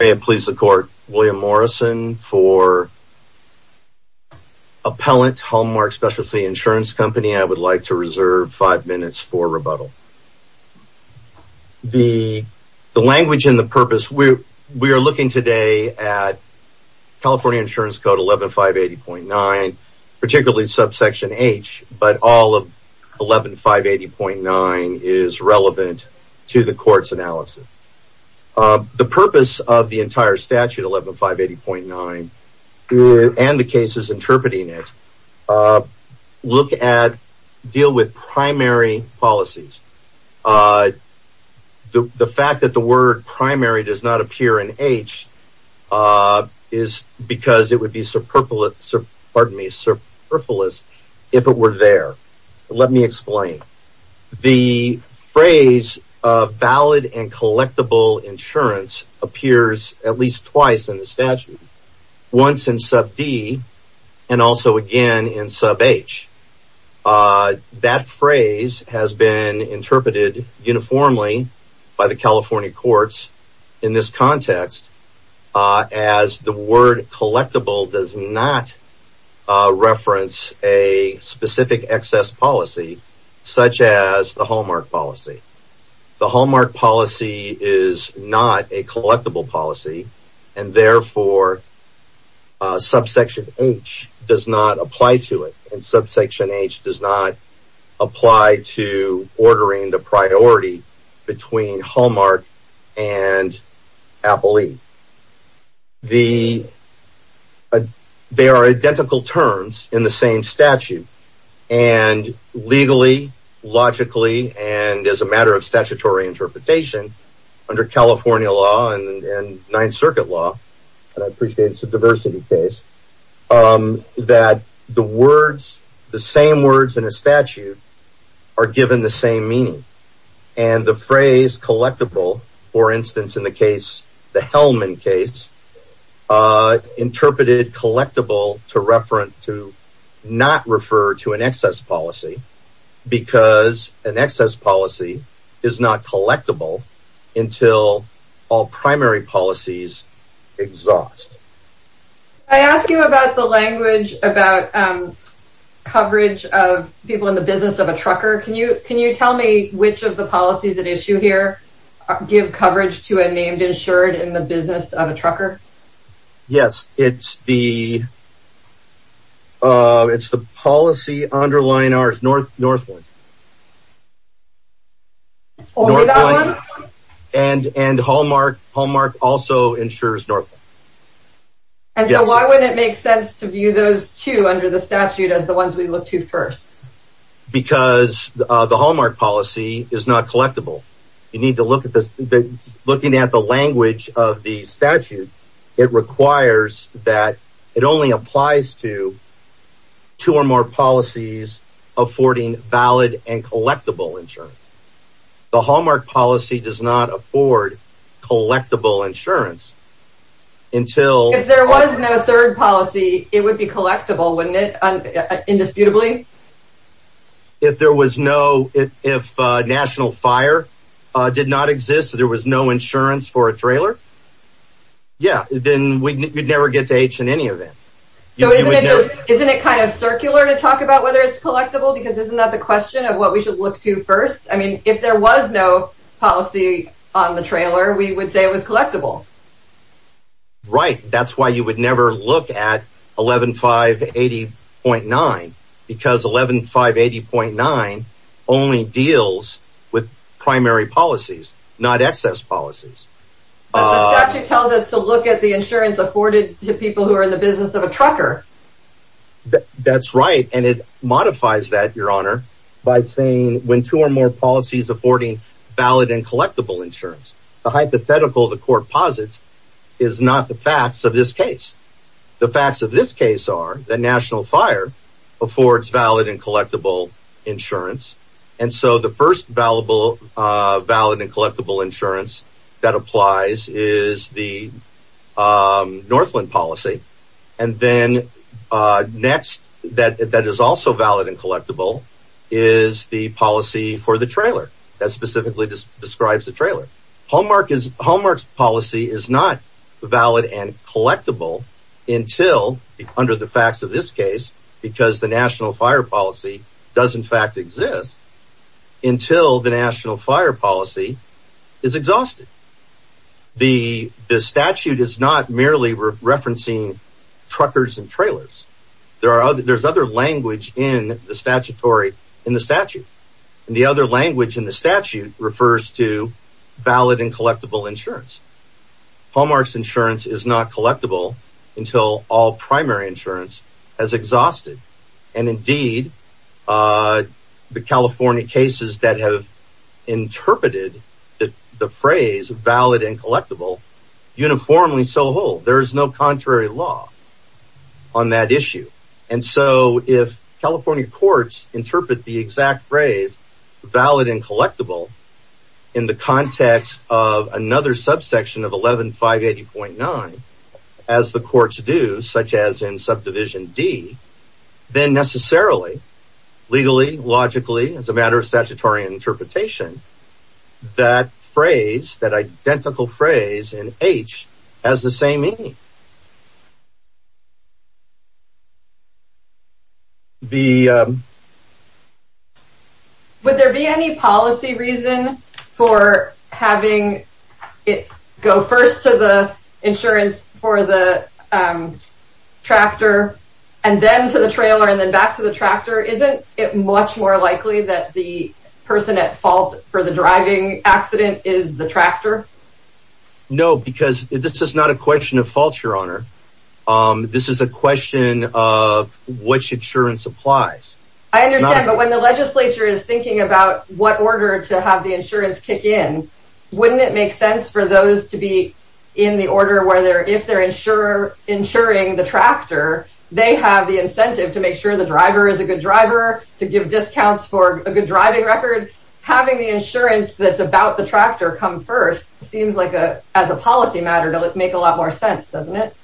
I am pleased to court William Morrison for Appellant Hallmark Specialty Insurance Company. I would like to reserve five minutes for rebuttal. The language and the purpose, we are looking today at California Insurance Code 11-580.9, particularly subsection H, but all of 11-580.9 is relevant to the court's analysis. The purpose of the entire statute, 11-580.9, and the cases interpreting it, look at, deal with primary policies. The fact that the word primary does not appear in H is because it would be superfluous if it were there. Let me explain. The phrase of valid and collectible insurance appears at least twice in the statute. Once in sub D and also again in sub H. That phrase has been interpreted uniformly by the California best policy such as the Hallmark policy. The Hallmark policy is not a collectible policy and therefore subsection H does not apply to it. Subsection H does not apply to ordering the priority between Hallmark and Appellee. They are identical terms in the same statute. And legally, logically, and as a matter of statutory interpretation, under California law and Ninth Circuit law, and I appreciate it's a diversity case, that the words, the same words in a statute are given the same meaning. And the phrase collectible, for instance, in the case, the Hellman case, interpreted collectible to refer to, not refer to an excess policy because an excess policy is not collectible until all primary policies exhaust. I asked you about the people in the business of a trucker. Can you tell me which of the policies at issue here give coverage to a named insured in the business of a trucker? Yes, it's the policy underlying ours, Northland. And Hallmark also insures Northland. And so why wouldn't it make sense to view those under the statute as the ones we look to first? Because the Hallmark policy is not collectible. You need to look at this, looking at the language of the statute, it requires that it only applies to two or more policies affording valid and collectible insurance. The Hallmark policy does not afford collectible insurance until... If there was no third policy, it would be collectible, wouldn't it? Indisputably. If there was no, if national fire did not exist, so there was no insurance for a trailer. Yeah, then we'd never get to H in any event. So isn't it kind of circular to talk about whether it's collectible? Because isn't that the question of what we should look to first? I mean, if there was no policy on the trailer, we would say it was collectible. Right. That's why you would never look at 11,580.9 because 11,580.9 only deals with primary policies, not excess policies. But the statute tells us to look at the insurance afforded to people who are in the business of a trucker. That's right. And it modifies that, Your Honor, by saying when two or more policies affording valid and collectible insurance, the hypothetical the court posits is not the facts of this case. The facts of this case are that national fire affords valid and collectible insurance. And so the first valuable valid and collectible insurance that applies is the Northland policy. And then next, that is also valid and collectible, is the policy for the trailer that specifically describes the trailer. Hallmark's policy is not valid and collectible until, under the facts of this case, because the national fire policy does in fact exist, until the national fire policy is exhausted. The statute is merely referencing truckers and trailers. There's other language in the statutory in the statute. And the other language in the statute refers to valid and collectible insurance. Hallmark's insurance is not collectible until all primary insurance has exhausted. And indeed, the California whole. There is no contrary law on that issue. And so if California courts interpret the exact phrase valid and collectible in the context of another subsection of 11 580.9, as the courts do, such as in subdivision D, then necessarily, legally, logically, as a matter of statutory interpretation, that phrase, that identical phrase in H, has the same meaning. Would there be any policy reason for having it go first to the insurance for the tractor, and then to the trailer, and then back to the tractor? Isn't it much more likely that the person at fault for the driving accident is the tractor? No, because this is not a question of fault, Your Honor. This is a question of which insurance applies. I understand, but when the legislature is thinking about what order to have the insurance kick in, wouldn't it make sense for those to be in the order where if they're insuring the tractor, they have the incentive to make sure the driver is a good driver, to give discounts for a good driving record? Having the insurance that's about the tractor come first seems like a, as a policy matter, to make a lot more sense, doesn't it?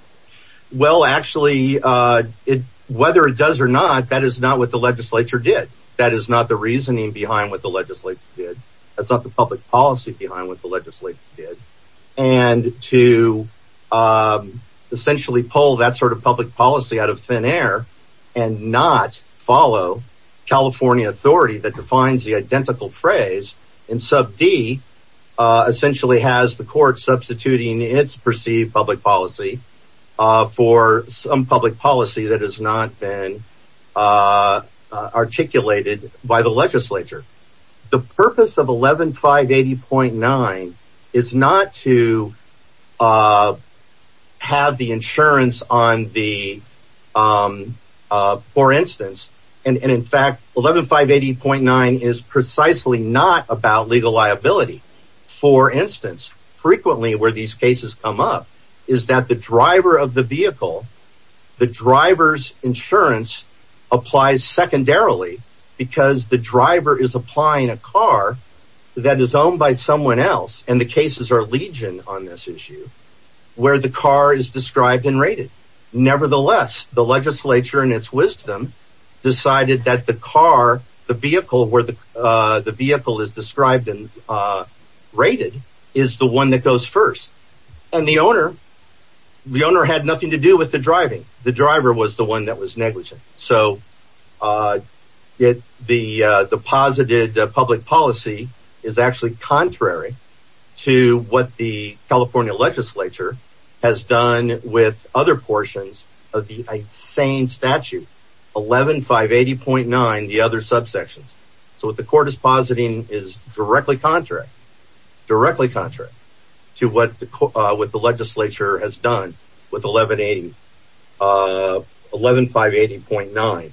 Well, actually, whether it does or not, that is not what the legislature did. That is not the reasoning behind what the legislature did. That's not the public policy behind what the legislature did. The purpose of 11-580.9 is not to have the insurance on the for instance, and in fact, 11-580.9 is precisely not about legal liability. For instance, frequently where these cases come up is that the driver of the vehicle, the driver's insurance applies secondarily because the driver is applying a car that is owned by someone else, and the cases are legion on this issue, where the car is described and rated. Nevertheless, the legislature in its wisdom decided that the car, the vehicle where the vehicle is described and rated is the one that goes first. And the owner, the owner had nothing to do with the driving. The driver was the one that was negligent. So the positive public policy is actually contrary to what the California legislature has done with other portions of the same statute, 11-580.9, the other subsections. So what the court is positing is directly contrary, directly contrary to what the legislature has done with 11-580.9.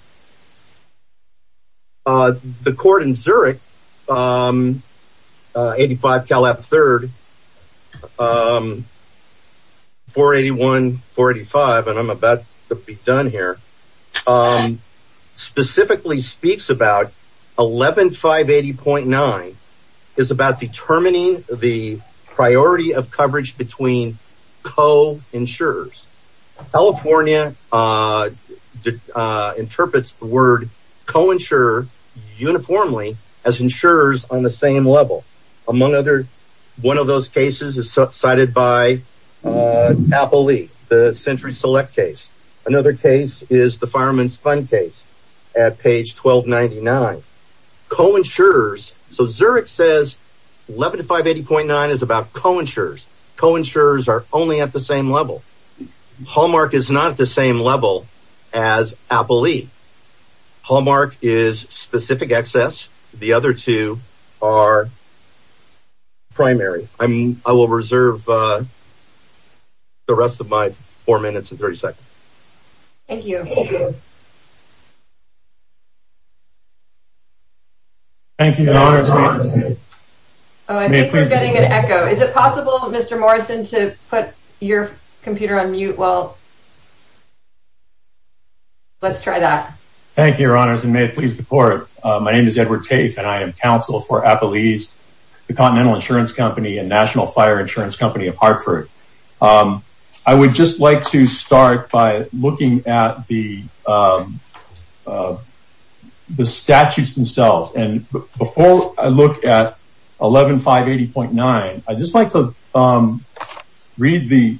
The court in Zurich, 85 Calab III, 481-485, and I'm about to be done here, specifically speaks about 11-580.9 is about determining the priority of coverage between co-insurers. California interprets the word co-insurer uniformly as insurers on the same level. Among other, one of those cases is cited by Appley, the Century Select case. Another case is the Fireman's Fund case at page 1299. Co-insurers, so Zurich says 11-580.9 is about co-insurers. Co-insurers are only at the same level. Hallmark is not at the same level as Appley. Hallmark is specific excess. The other two are primary. I will reserve the rest of my four minutes and 30 seconds. Thank you. Thank you, Your Honors. Oh, I think we're getting an echo. Is it possible, Mr. Morrison, to put your computer on mute? Well, let's try that. Thank you, Your Honors, and may it please the court. My name is Edward Tafe, and I am counsel for Appley's, the Continental Insurance Company and National Fire Insurance Company of Hartford. I would just like to start by looking at the statutes themselves. Before I look at 11-580.9, I'd just like to read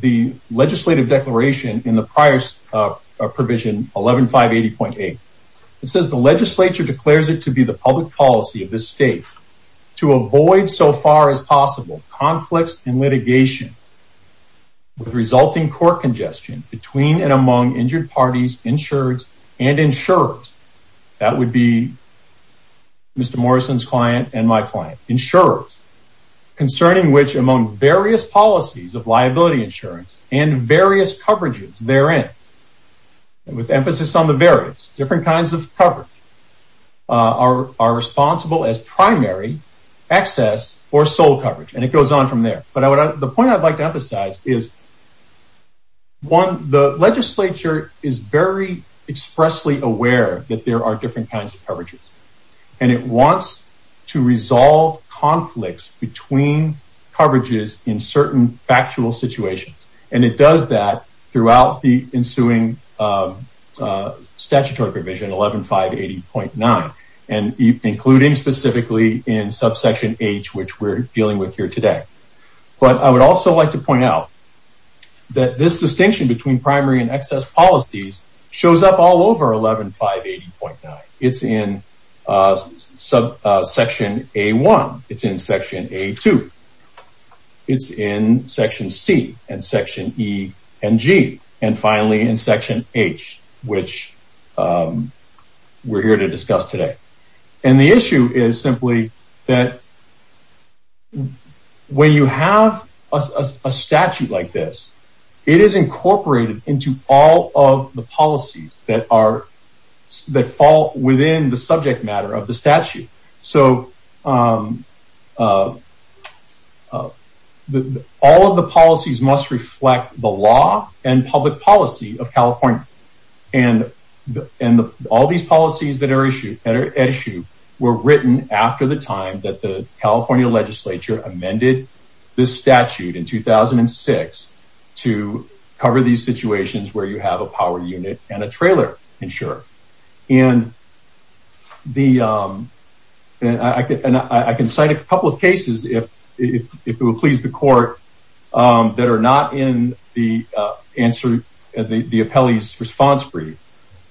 the legislative declaration in the prior provision, 11-580.8. It says, the legislature declares it to be the public policy of this state to avoid, so far as possible, conflicts in litigation with resulting court congestion between and among injured parties, insureds, and insurers. That would be Mr. Morrison's client and my client, insurers, concerning which among various policies of liability insurance and various coverages therein, with emphasis on the various, different kinds of coverage, are responsible as primary, excess, or sole coverage, and it goes on from there. The point I'd like to emphasize is, one, the legislature is very expressly aware that there are different kinds of coverages, and it wants to resolve conflicts between coverages in certain factual situations, and it does that throughout the ensuing statutory provision, 11-580.9, and including specifically in subsection H, which we're dealing with here today. But I would also like to point out that this distinction between primary and excess policies shows up all over 11-580.9. It's in section A-1. It's in section A-2. It's in section C, and section E, and G, and finally in section H, which we're here to discuss today. And the issue is simply that when you have a statute like this, it is incorporated into all the policies that fall within the subject matter of the statute. So, all of the policies must reflect the law and public policy of California, and all these policies that are at issue were written after the time that the California legislature amended this statute in 2006 to cover these situations where you have a power unit and a trailer insurer. I can cite a couple of cases, if it will please the court, that are not in the appellee's response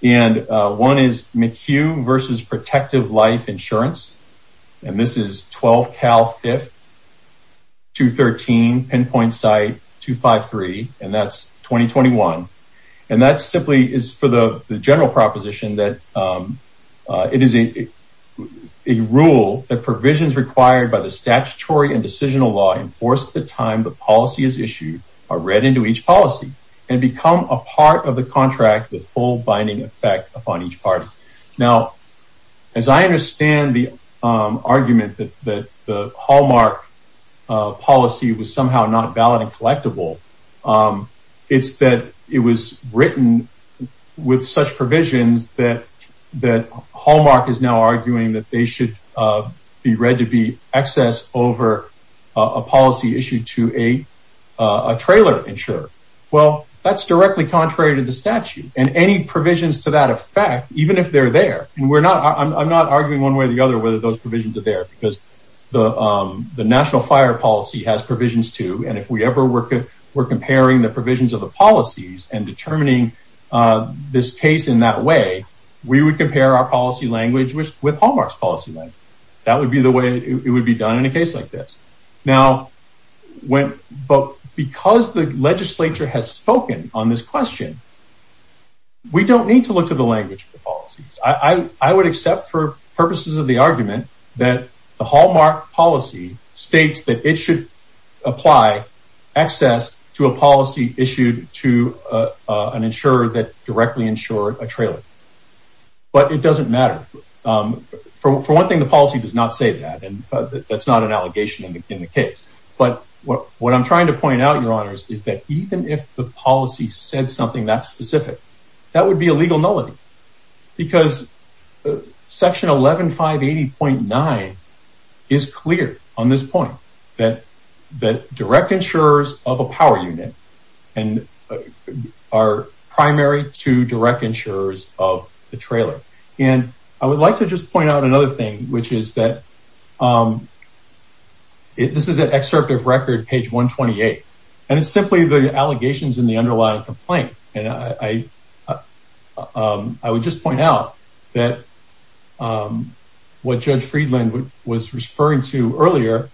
and one is McHugh v. Protective Life Insurance, and this is 12-Cal-5-213-Pinpoint-Site-253, and that's 2021. And that simply is for the general proposition that it is a rule that provisions required by the statutory and decisional law enforced at the time the policy is issued are read into each policy and become a part of the contract with full binding effect upon each party. Now, as I understand the argument that the Hallmark policy was somehow not valid and collectible, it's that it was written with such provisions that Hallmark is now arguing that they ensure. Well, that's directly contrary to the statute, and any provisions to that effect, even if they're there, and I'm not arguing one way or the other whether those provisions are there, because the national fire policy has provisions too, and if we ever were comparing the provisions of the policies and determining this case in that way, we would compare our policy language with Hallmark's policy language. That would be the way it would be done in a case like this. Now, because the legislature has spoken on this question, we don't need to look to the language of the policies. I would accept for purposes of the argument that the Hallmark policy states that it should apply access to a policy issued to an insurer that directly insured a trailer, but it doesn't matter. For one thing, the policy does not say that, that's not an allegation in the case, but what I'm trying to point out, your honors, is that even if the policy said something that specific, that would be a legal nullity, because section 11580.9 is clear on this point that direct insurers of a power unit are primary to direct insurers of the trailer, and I would like to just point out another thing, which is that this is an excerpt of record page 128, and it's simply the allegations in the underlying complaint, and I would just point out that what Judge Friedland was referring to earlier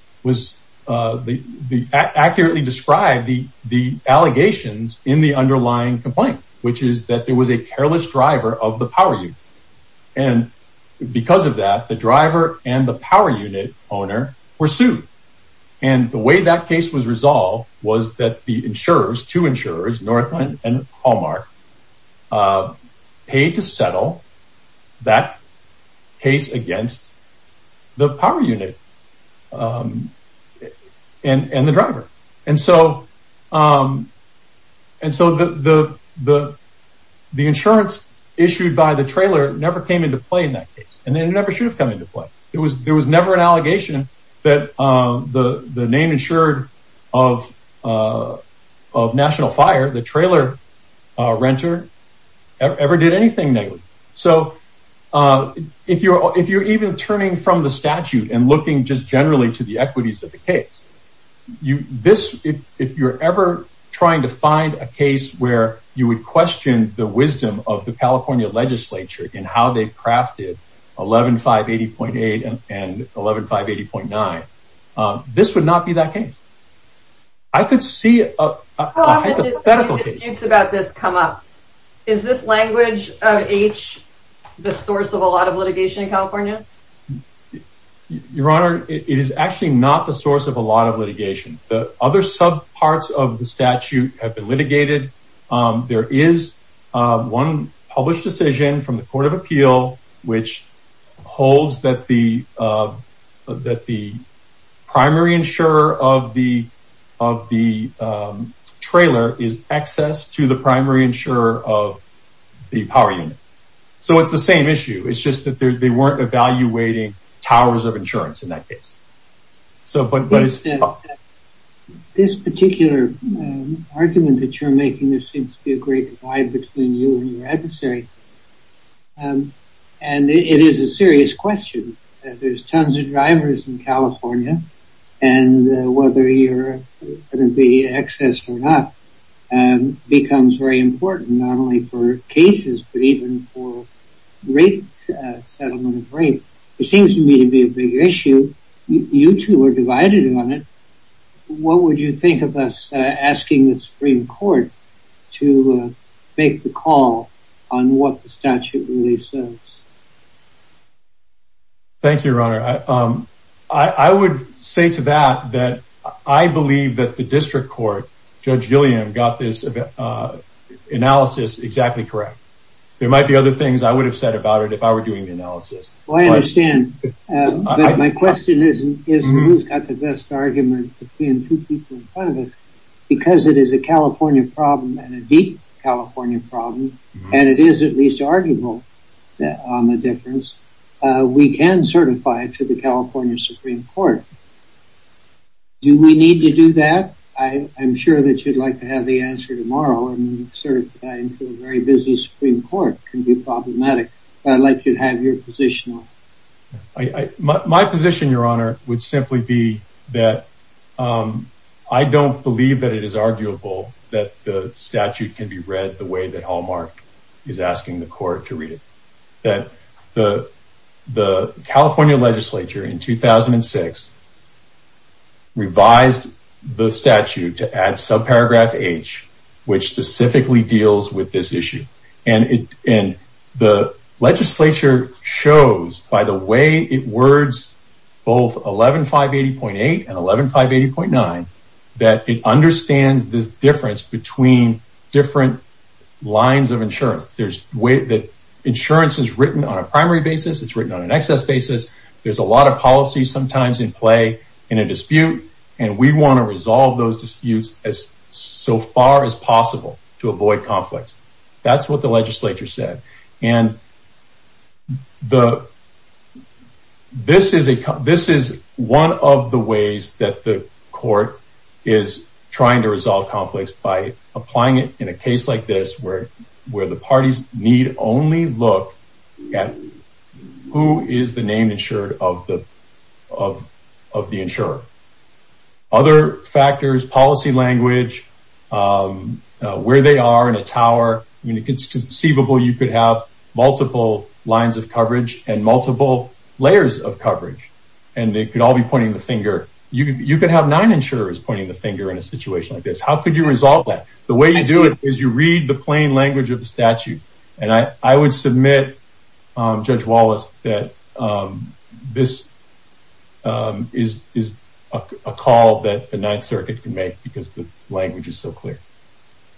accurately described the allegations in the underlying complaint, which is that there and the power unit owner were sued, and the way that case was resolved was that the insurers, two insurers, Northland and Hallmark, paid to settle that case against the power unit and the driver, and so the insurance issued by the trailer never came into play in that case, and it never should have come into play. There was never an allegation that the name insured of National Fire, the trailer renter, ever did anything negative, so if you're even turning from the statute and looking just generally to the equities of the case, if you're ever trying to find a case where you would question the wisdom of the California legislature in how they crafted 11-580.8 and 11-580.9, this would not be that case. I could see a hypothetical case. How often do disputes about this come up? Is this language of H the source of a lot of litigation in California? Your Honor, it is actually not the source of a lot of litigation. The other sub parts of the statute have been litigated. There is one published decision from the Court of Appeal which holds that the primary insurer of the trailer is excess to the primary insurer of the power unit, so it's the same issue. It's just that they weren't evaluating towers of insurance in that case. This particular argument that you're making, there seems to be a great divide between you and your adversary, and it is a serious question. There's tons of drivers in California, and whether you're going to be excess or not becomes very important, not only for cases, but even for settlement of rates. It seems to me to be a big issue. You two are divided on it. What would you think of us asking the Supreme Court to make the call on what the statute really says? Thank you, Your Honor. I would say to that that I believe that the district court, Judge Gilliam, got this analysis exactly correct. There might be other things I would have said about it if I were doing the analysis. Well, I understand, but my question isn't who's got the best argument between two people in front of us. Because it is a California problem and a deep California problem, and it is at least to do that. I'm sure that you'd like to have the answer tomorrow and insert that into a very busy Supreme Court. It can be problematic, but I'd like you to have your position. My position, Your Honor, would simply be that I don't believe that it is arguable that the statute can be read the way that Hallmark is asking the court to read it. The California legislature in 2006 revised the statute to add subparagraph H, which specifically deals with this issue. The legislature shows by the way it words both 11580.8 and 11580.9 that it understands this difference between different lines of insurance. Insurance is written on a primary basis. It's in a dispute, and we want to resolve those disputes as far as possible to avoid conflicts. That's what the legislature said. This is one of the ways that the court is trying to resolve conflicts by applying it in a case like this where the parties need only look at who is the insured of the insurer. Other factors, policy language, where they are in a tower. It's conceivable you could have multiple lines of coverage and multiple layers of coverage, and they could all be pointing the finger. You could have nine insurers pointing the finger in a situation like this. How could you resolve that? The way you do it is you read the plain this is a call that the Ninth Circuit can make because the language is so clear.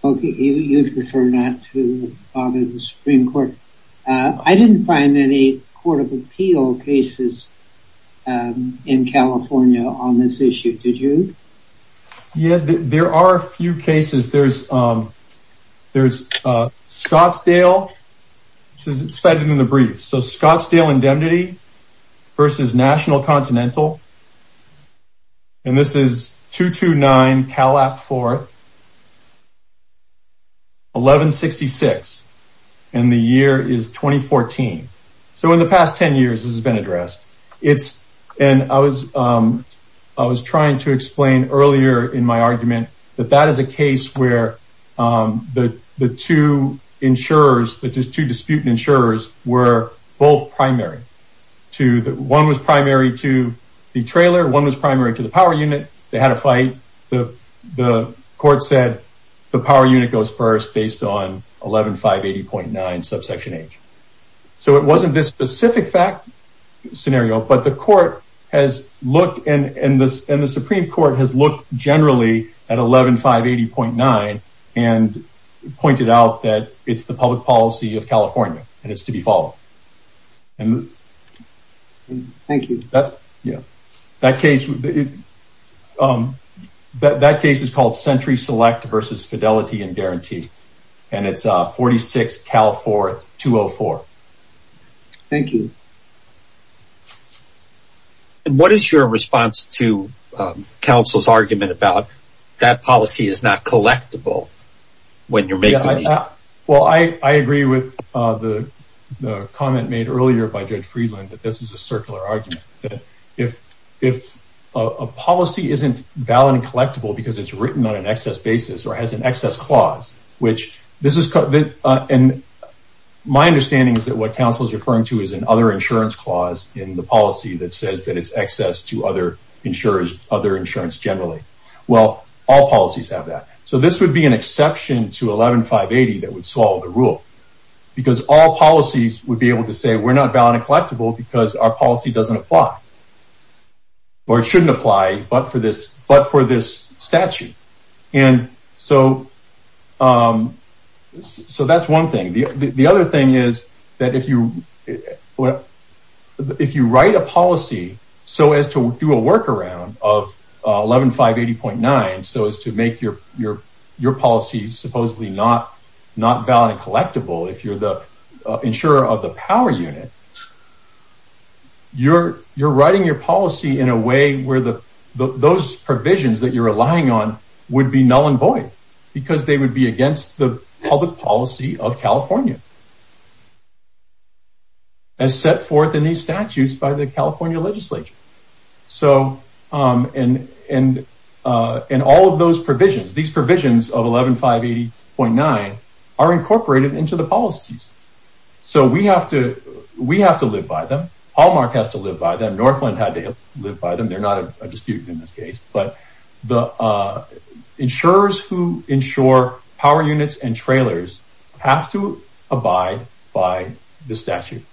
Okay, you prefer not to bother the Supreme Court. I didn't find any Court of Appeal cases in California on this issue, did you? Yeah, there are a few cases. There's Scottsdale, which is cited in the brief. So, Scottsdale Indemnity versus National Continental, and this is 229 Calap 4th, 1166, and the year is 2014. So, in the past 10 years, this has been addressed. I was trying to explain earlier in my argument that that is a case where the two disputant insurers were both primary. One was primary to the trailer, one was primary to the power unit. They had a fight. The court said the power unit goes first based on 11580.9 subsection H. So, it wasn't this specific fact scenario, but the Supreme Court has looked generally at 11580.9 and pointed out that it's the public policy of California and it's to be followed. Thank you. That case is called Century Select versus Fidelity and Guarantee, and it's 46 Cal 4th, 204. Thank you. And what is your response to counsel's argument about that policy is not collectible? Well, I agree with the comment made earlier by Judge Friedland that this is a circular argument. If a policy isn't valid and collectible because it's written on an excess basis or has an My understanding is that what counsel is referring to is an other insurance clause in the policy that says that it's excess to other insurers, other insurance generally. Well, all policies have that. So, this would be an exception to 11580 that would solve the rule because all policies would be able to say we're not valid and collectible because our policy doesn't apply or it shouldn't apply, but for this statute. And so, that's one thing. The other thing is that if you write a policy so as to do a workaround of 11580.9 so as to make your policy supposedly not valid and collectible if you're the insurer of the power unit, you're writing your policy in a way where those provisions that you're relying on would be null because they would be against the public policy of California as set forth in these statutes by the California legislature. So, and all of those provisions, these provisions of 11580.9 are incorporated into the policies. So, we have to live by them. Hallmark has to live by them. Northland had to live by them. They're who ensure power units and trailers have to abide by the statute.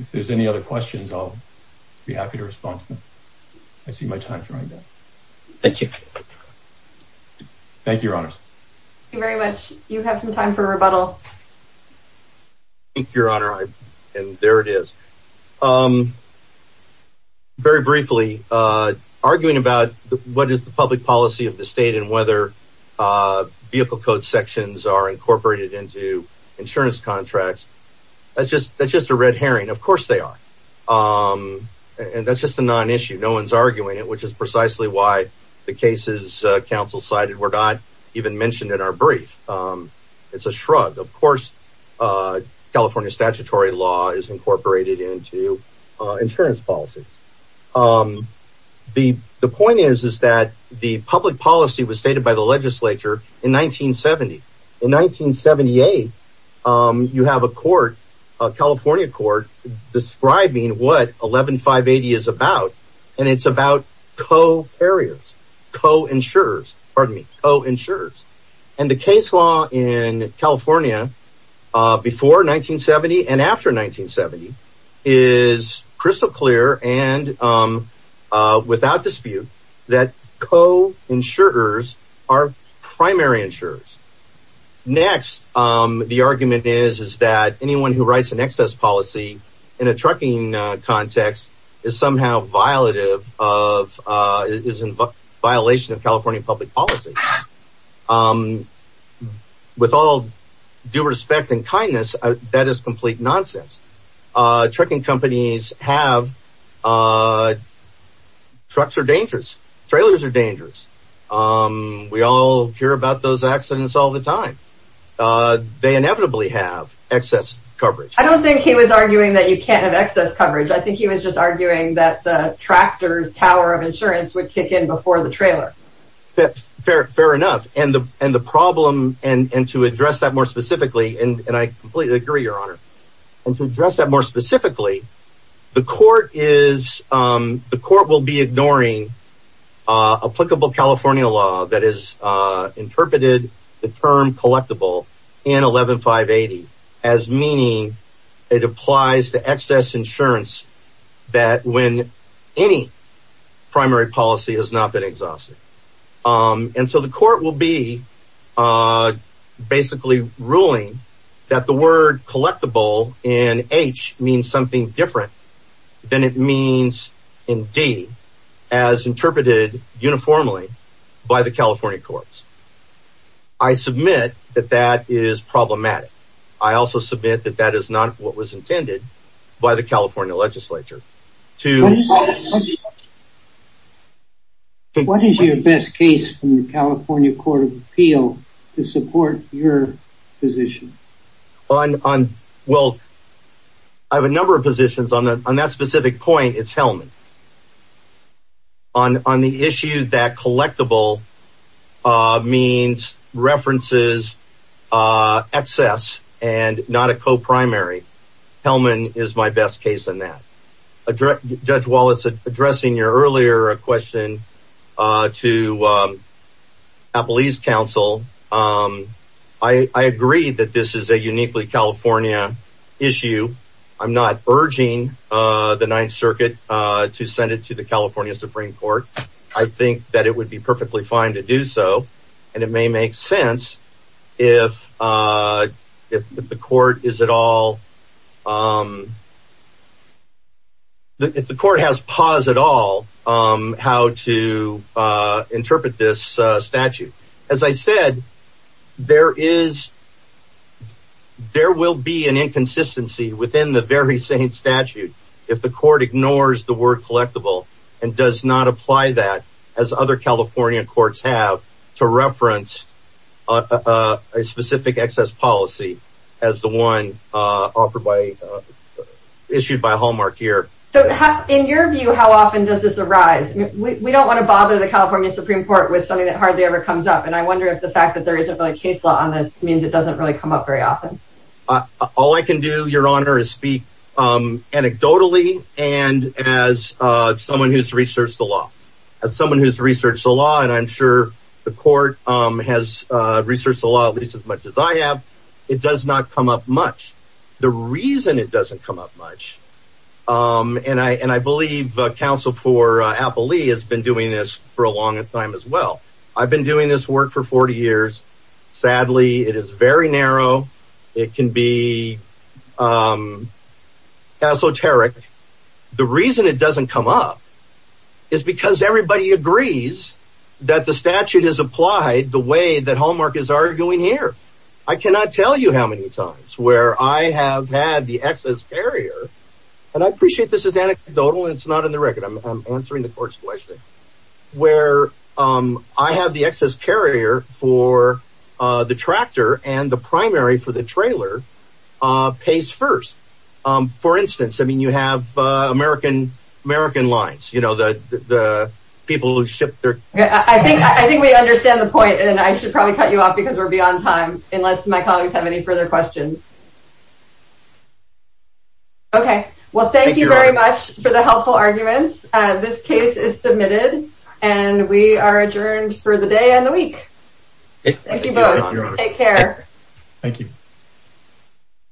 If there's any other questions, I'll be happy to respond to them. I see my time's running down. Thank you. Thank you, Your Honors. Thank you very much. You have some time for rebuttal. Thank you, Your Honor. And there it is. Very briefly, arguing about what is the public policy of the state and whether vehicle code sections are incorporated into insurance contracts. That's just a red herring. Of course, they are. And that's just a non-issue. No one's arguing it, which is precisely why the cases counsel cited were not even mentioned in our brief. It's a shrug. Of course, California statutory law is incorporated into insurance policies. The point is that the public policy was stated by the legislature in 1970. In 1978, you have a court, a California court, describing what 11580 is about. And it's about co-carriers, co-insurers, pardon me, co-insurers. And the case law in California before 1970 and after 1970 is crystal clear and without dispute that co-insurers are primary insurers. Next, the argument is that anyone who writes an excess policy in a trucking context is somehow violative of, is in violation of California public policy. With all due respect and kindness, that is complete nonsense. Trucking companies have, trucks are dangerous, trailers are dangerous. We all hear about those accidents all the time. They inevitably have excess coverage. I don't think he was arguing that you can't have excess coverage. I think he was just arguing that the tractor's tower of insurance would kick in before the trailer. Fair enough. And the problem, and to address that more specifically, and I completely agree, your honor. And to address that more specifically, the court is, the court will be ignoring applicable California law that has interpreted the term collectible in 11580 as meaning it applies to excess insurance that when any primary policy has not been exhausted. And so the court will be basically ruling that the word collectible in H means something different than it means in D as interpreted uniformly by the California courts. I submit that that is problematic. I also submit that that is not what was intended by the California legislature. What is your best case from the California court of appeal to support your position? Well, I have a number of positions on that specific point. It's Hellman. On the issue that collectible means references excess and not a co-primary, Hellman is my best case in that. Judge Wallace, addressing your earlier question to Appalese council, I agree that this is a uniquely California issue. I'm not urging the Ninth Circuit to send it to the California Supreme Court. I think that it would be perfectly fine to do so. And it may make sense if the court has pause at all how to interpret this statute. As I said, there is, there will be an inconsistency within the very same statute if the court ignores the word collectible and does not apply that as other California courts have to reference a specific excess policy as the one offered by, issued by Hallmark here. So in your view, how often does this arise? We don't want to bother the California Supreme Court with something that hardly ever comes up. And I wonder if the fact that there isn't really case law on this means it doesn't really come up very often. All I can do, your honor, is speak anecdotally. And as someone who's researched the law, as someone who's researched the law, and I'm sure the court has researched the law at least as much as I have, it does not come up much. The reason it doesn't come up much, and I, and I believe counsel for Appley has been doing this for a long time as well. I've been doing this work for 40 years. Sadly, it is very narrow. It can be esoteric. The reason it doesn't come up is because everybody agrees that the statute is applied the way that Hallmark is arguing here. I cannot tell you how many times where I have had the excess barrier, and I appreciate this anecdotal, it's not in the record, I'm answering the court's question, where I have the excess carrier for the tractor and the primary for the trailer pays first. For instance, I mean, you have American lines, you know, the people who ship their... I think we understand the point, and I should probably cut you off because we're beyond time, unless my colleagues have any further questions. Okay, well thank you very much for the helpful arguments. This case is submitted, and we are adjourned for the day and the week. Thank you both. Take care. Thank you.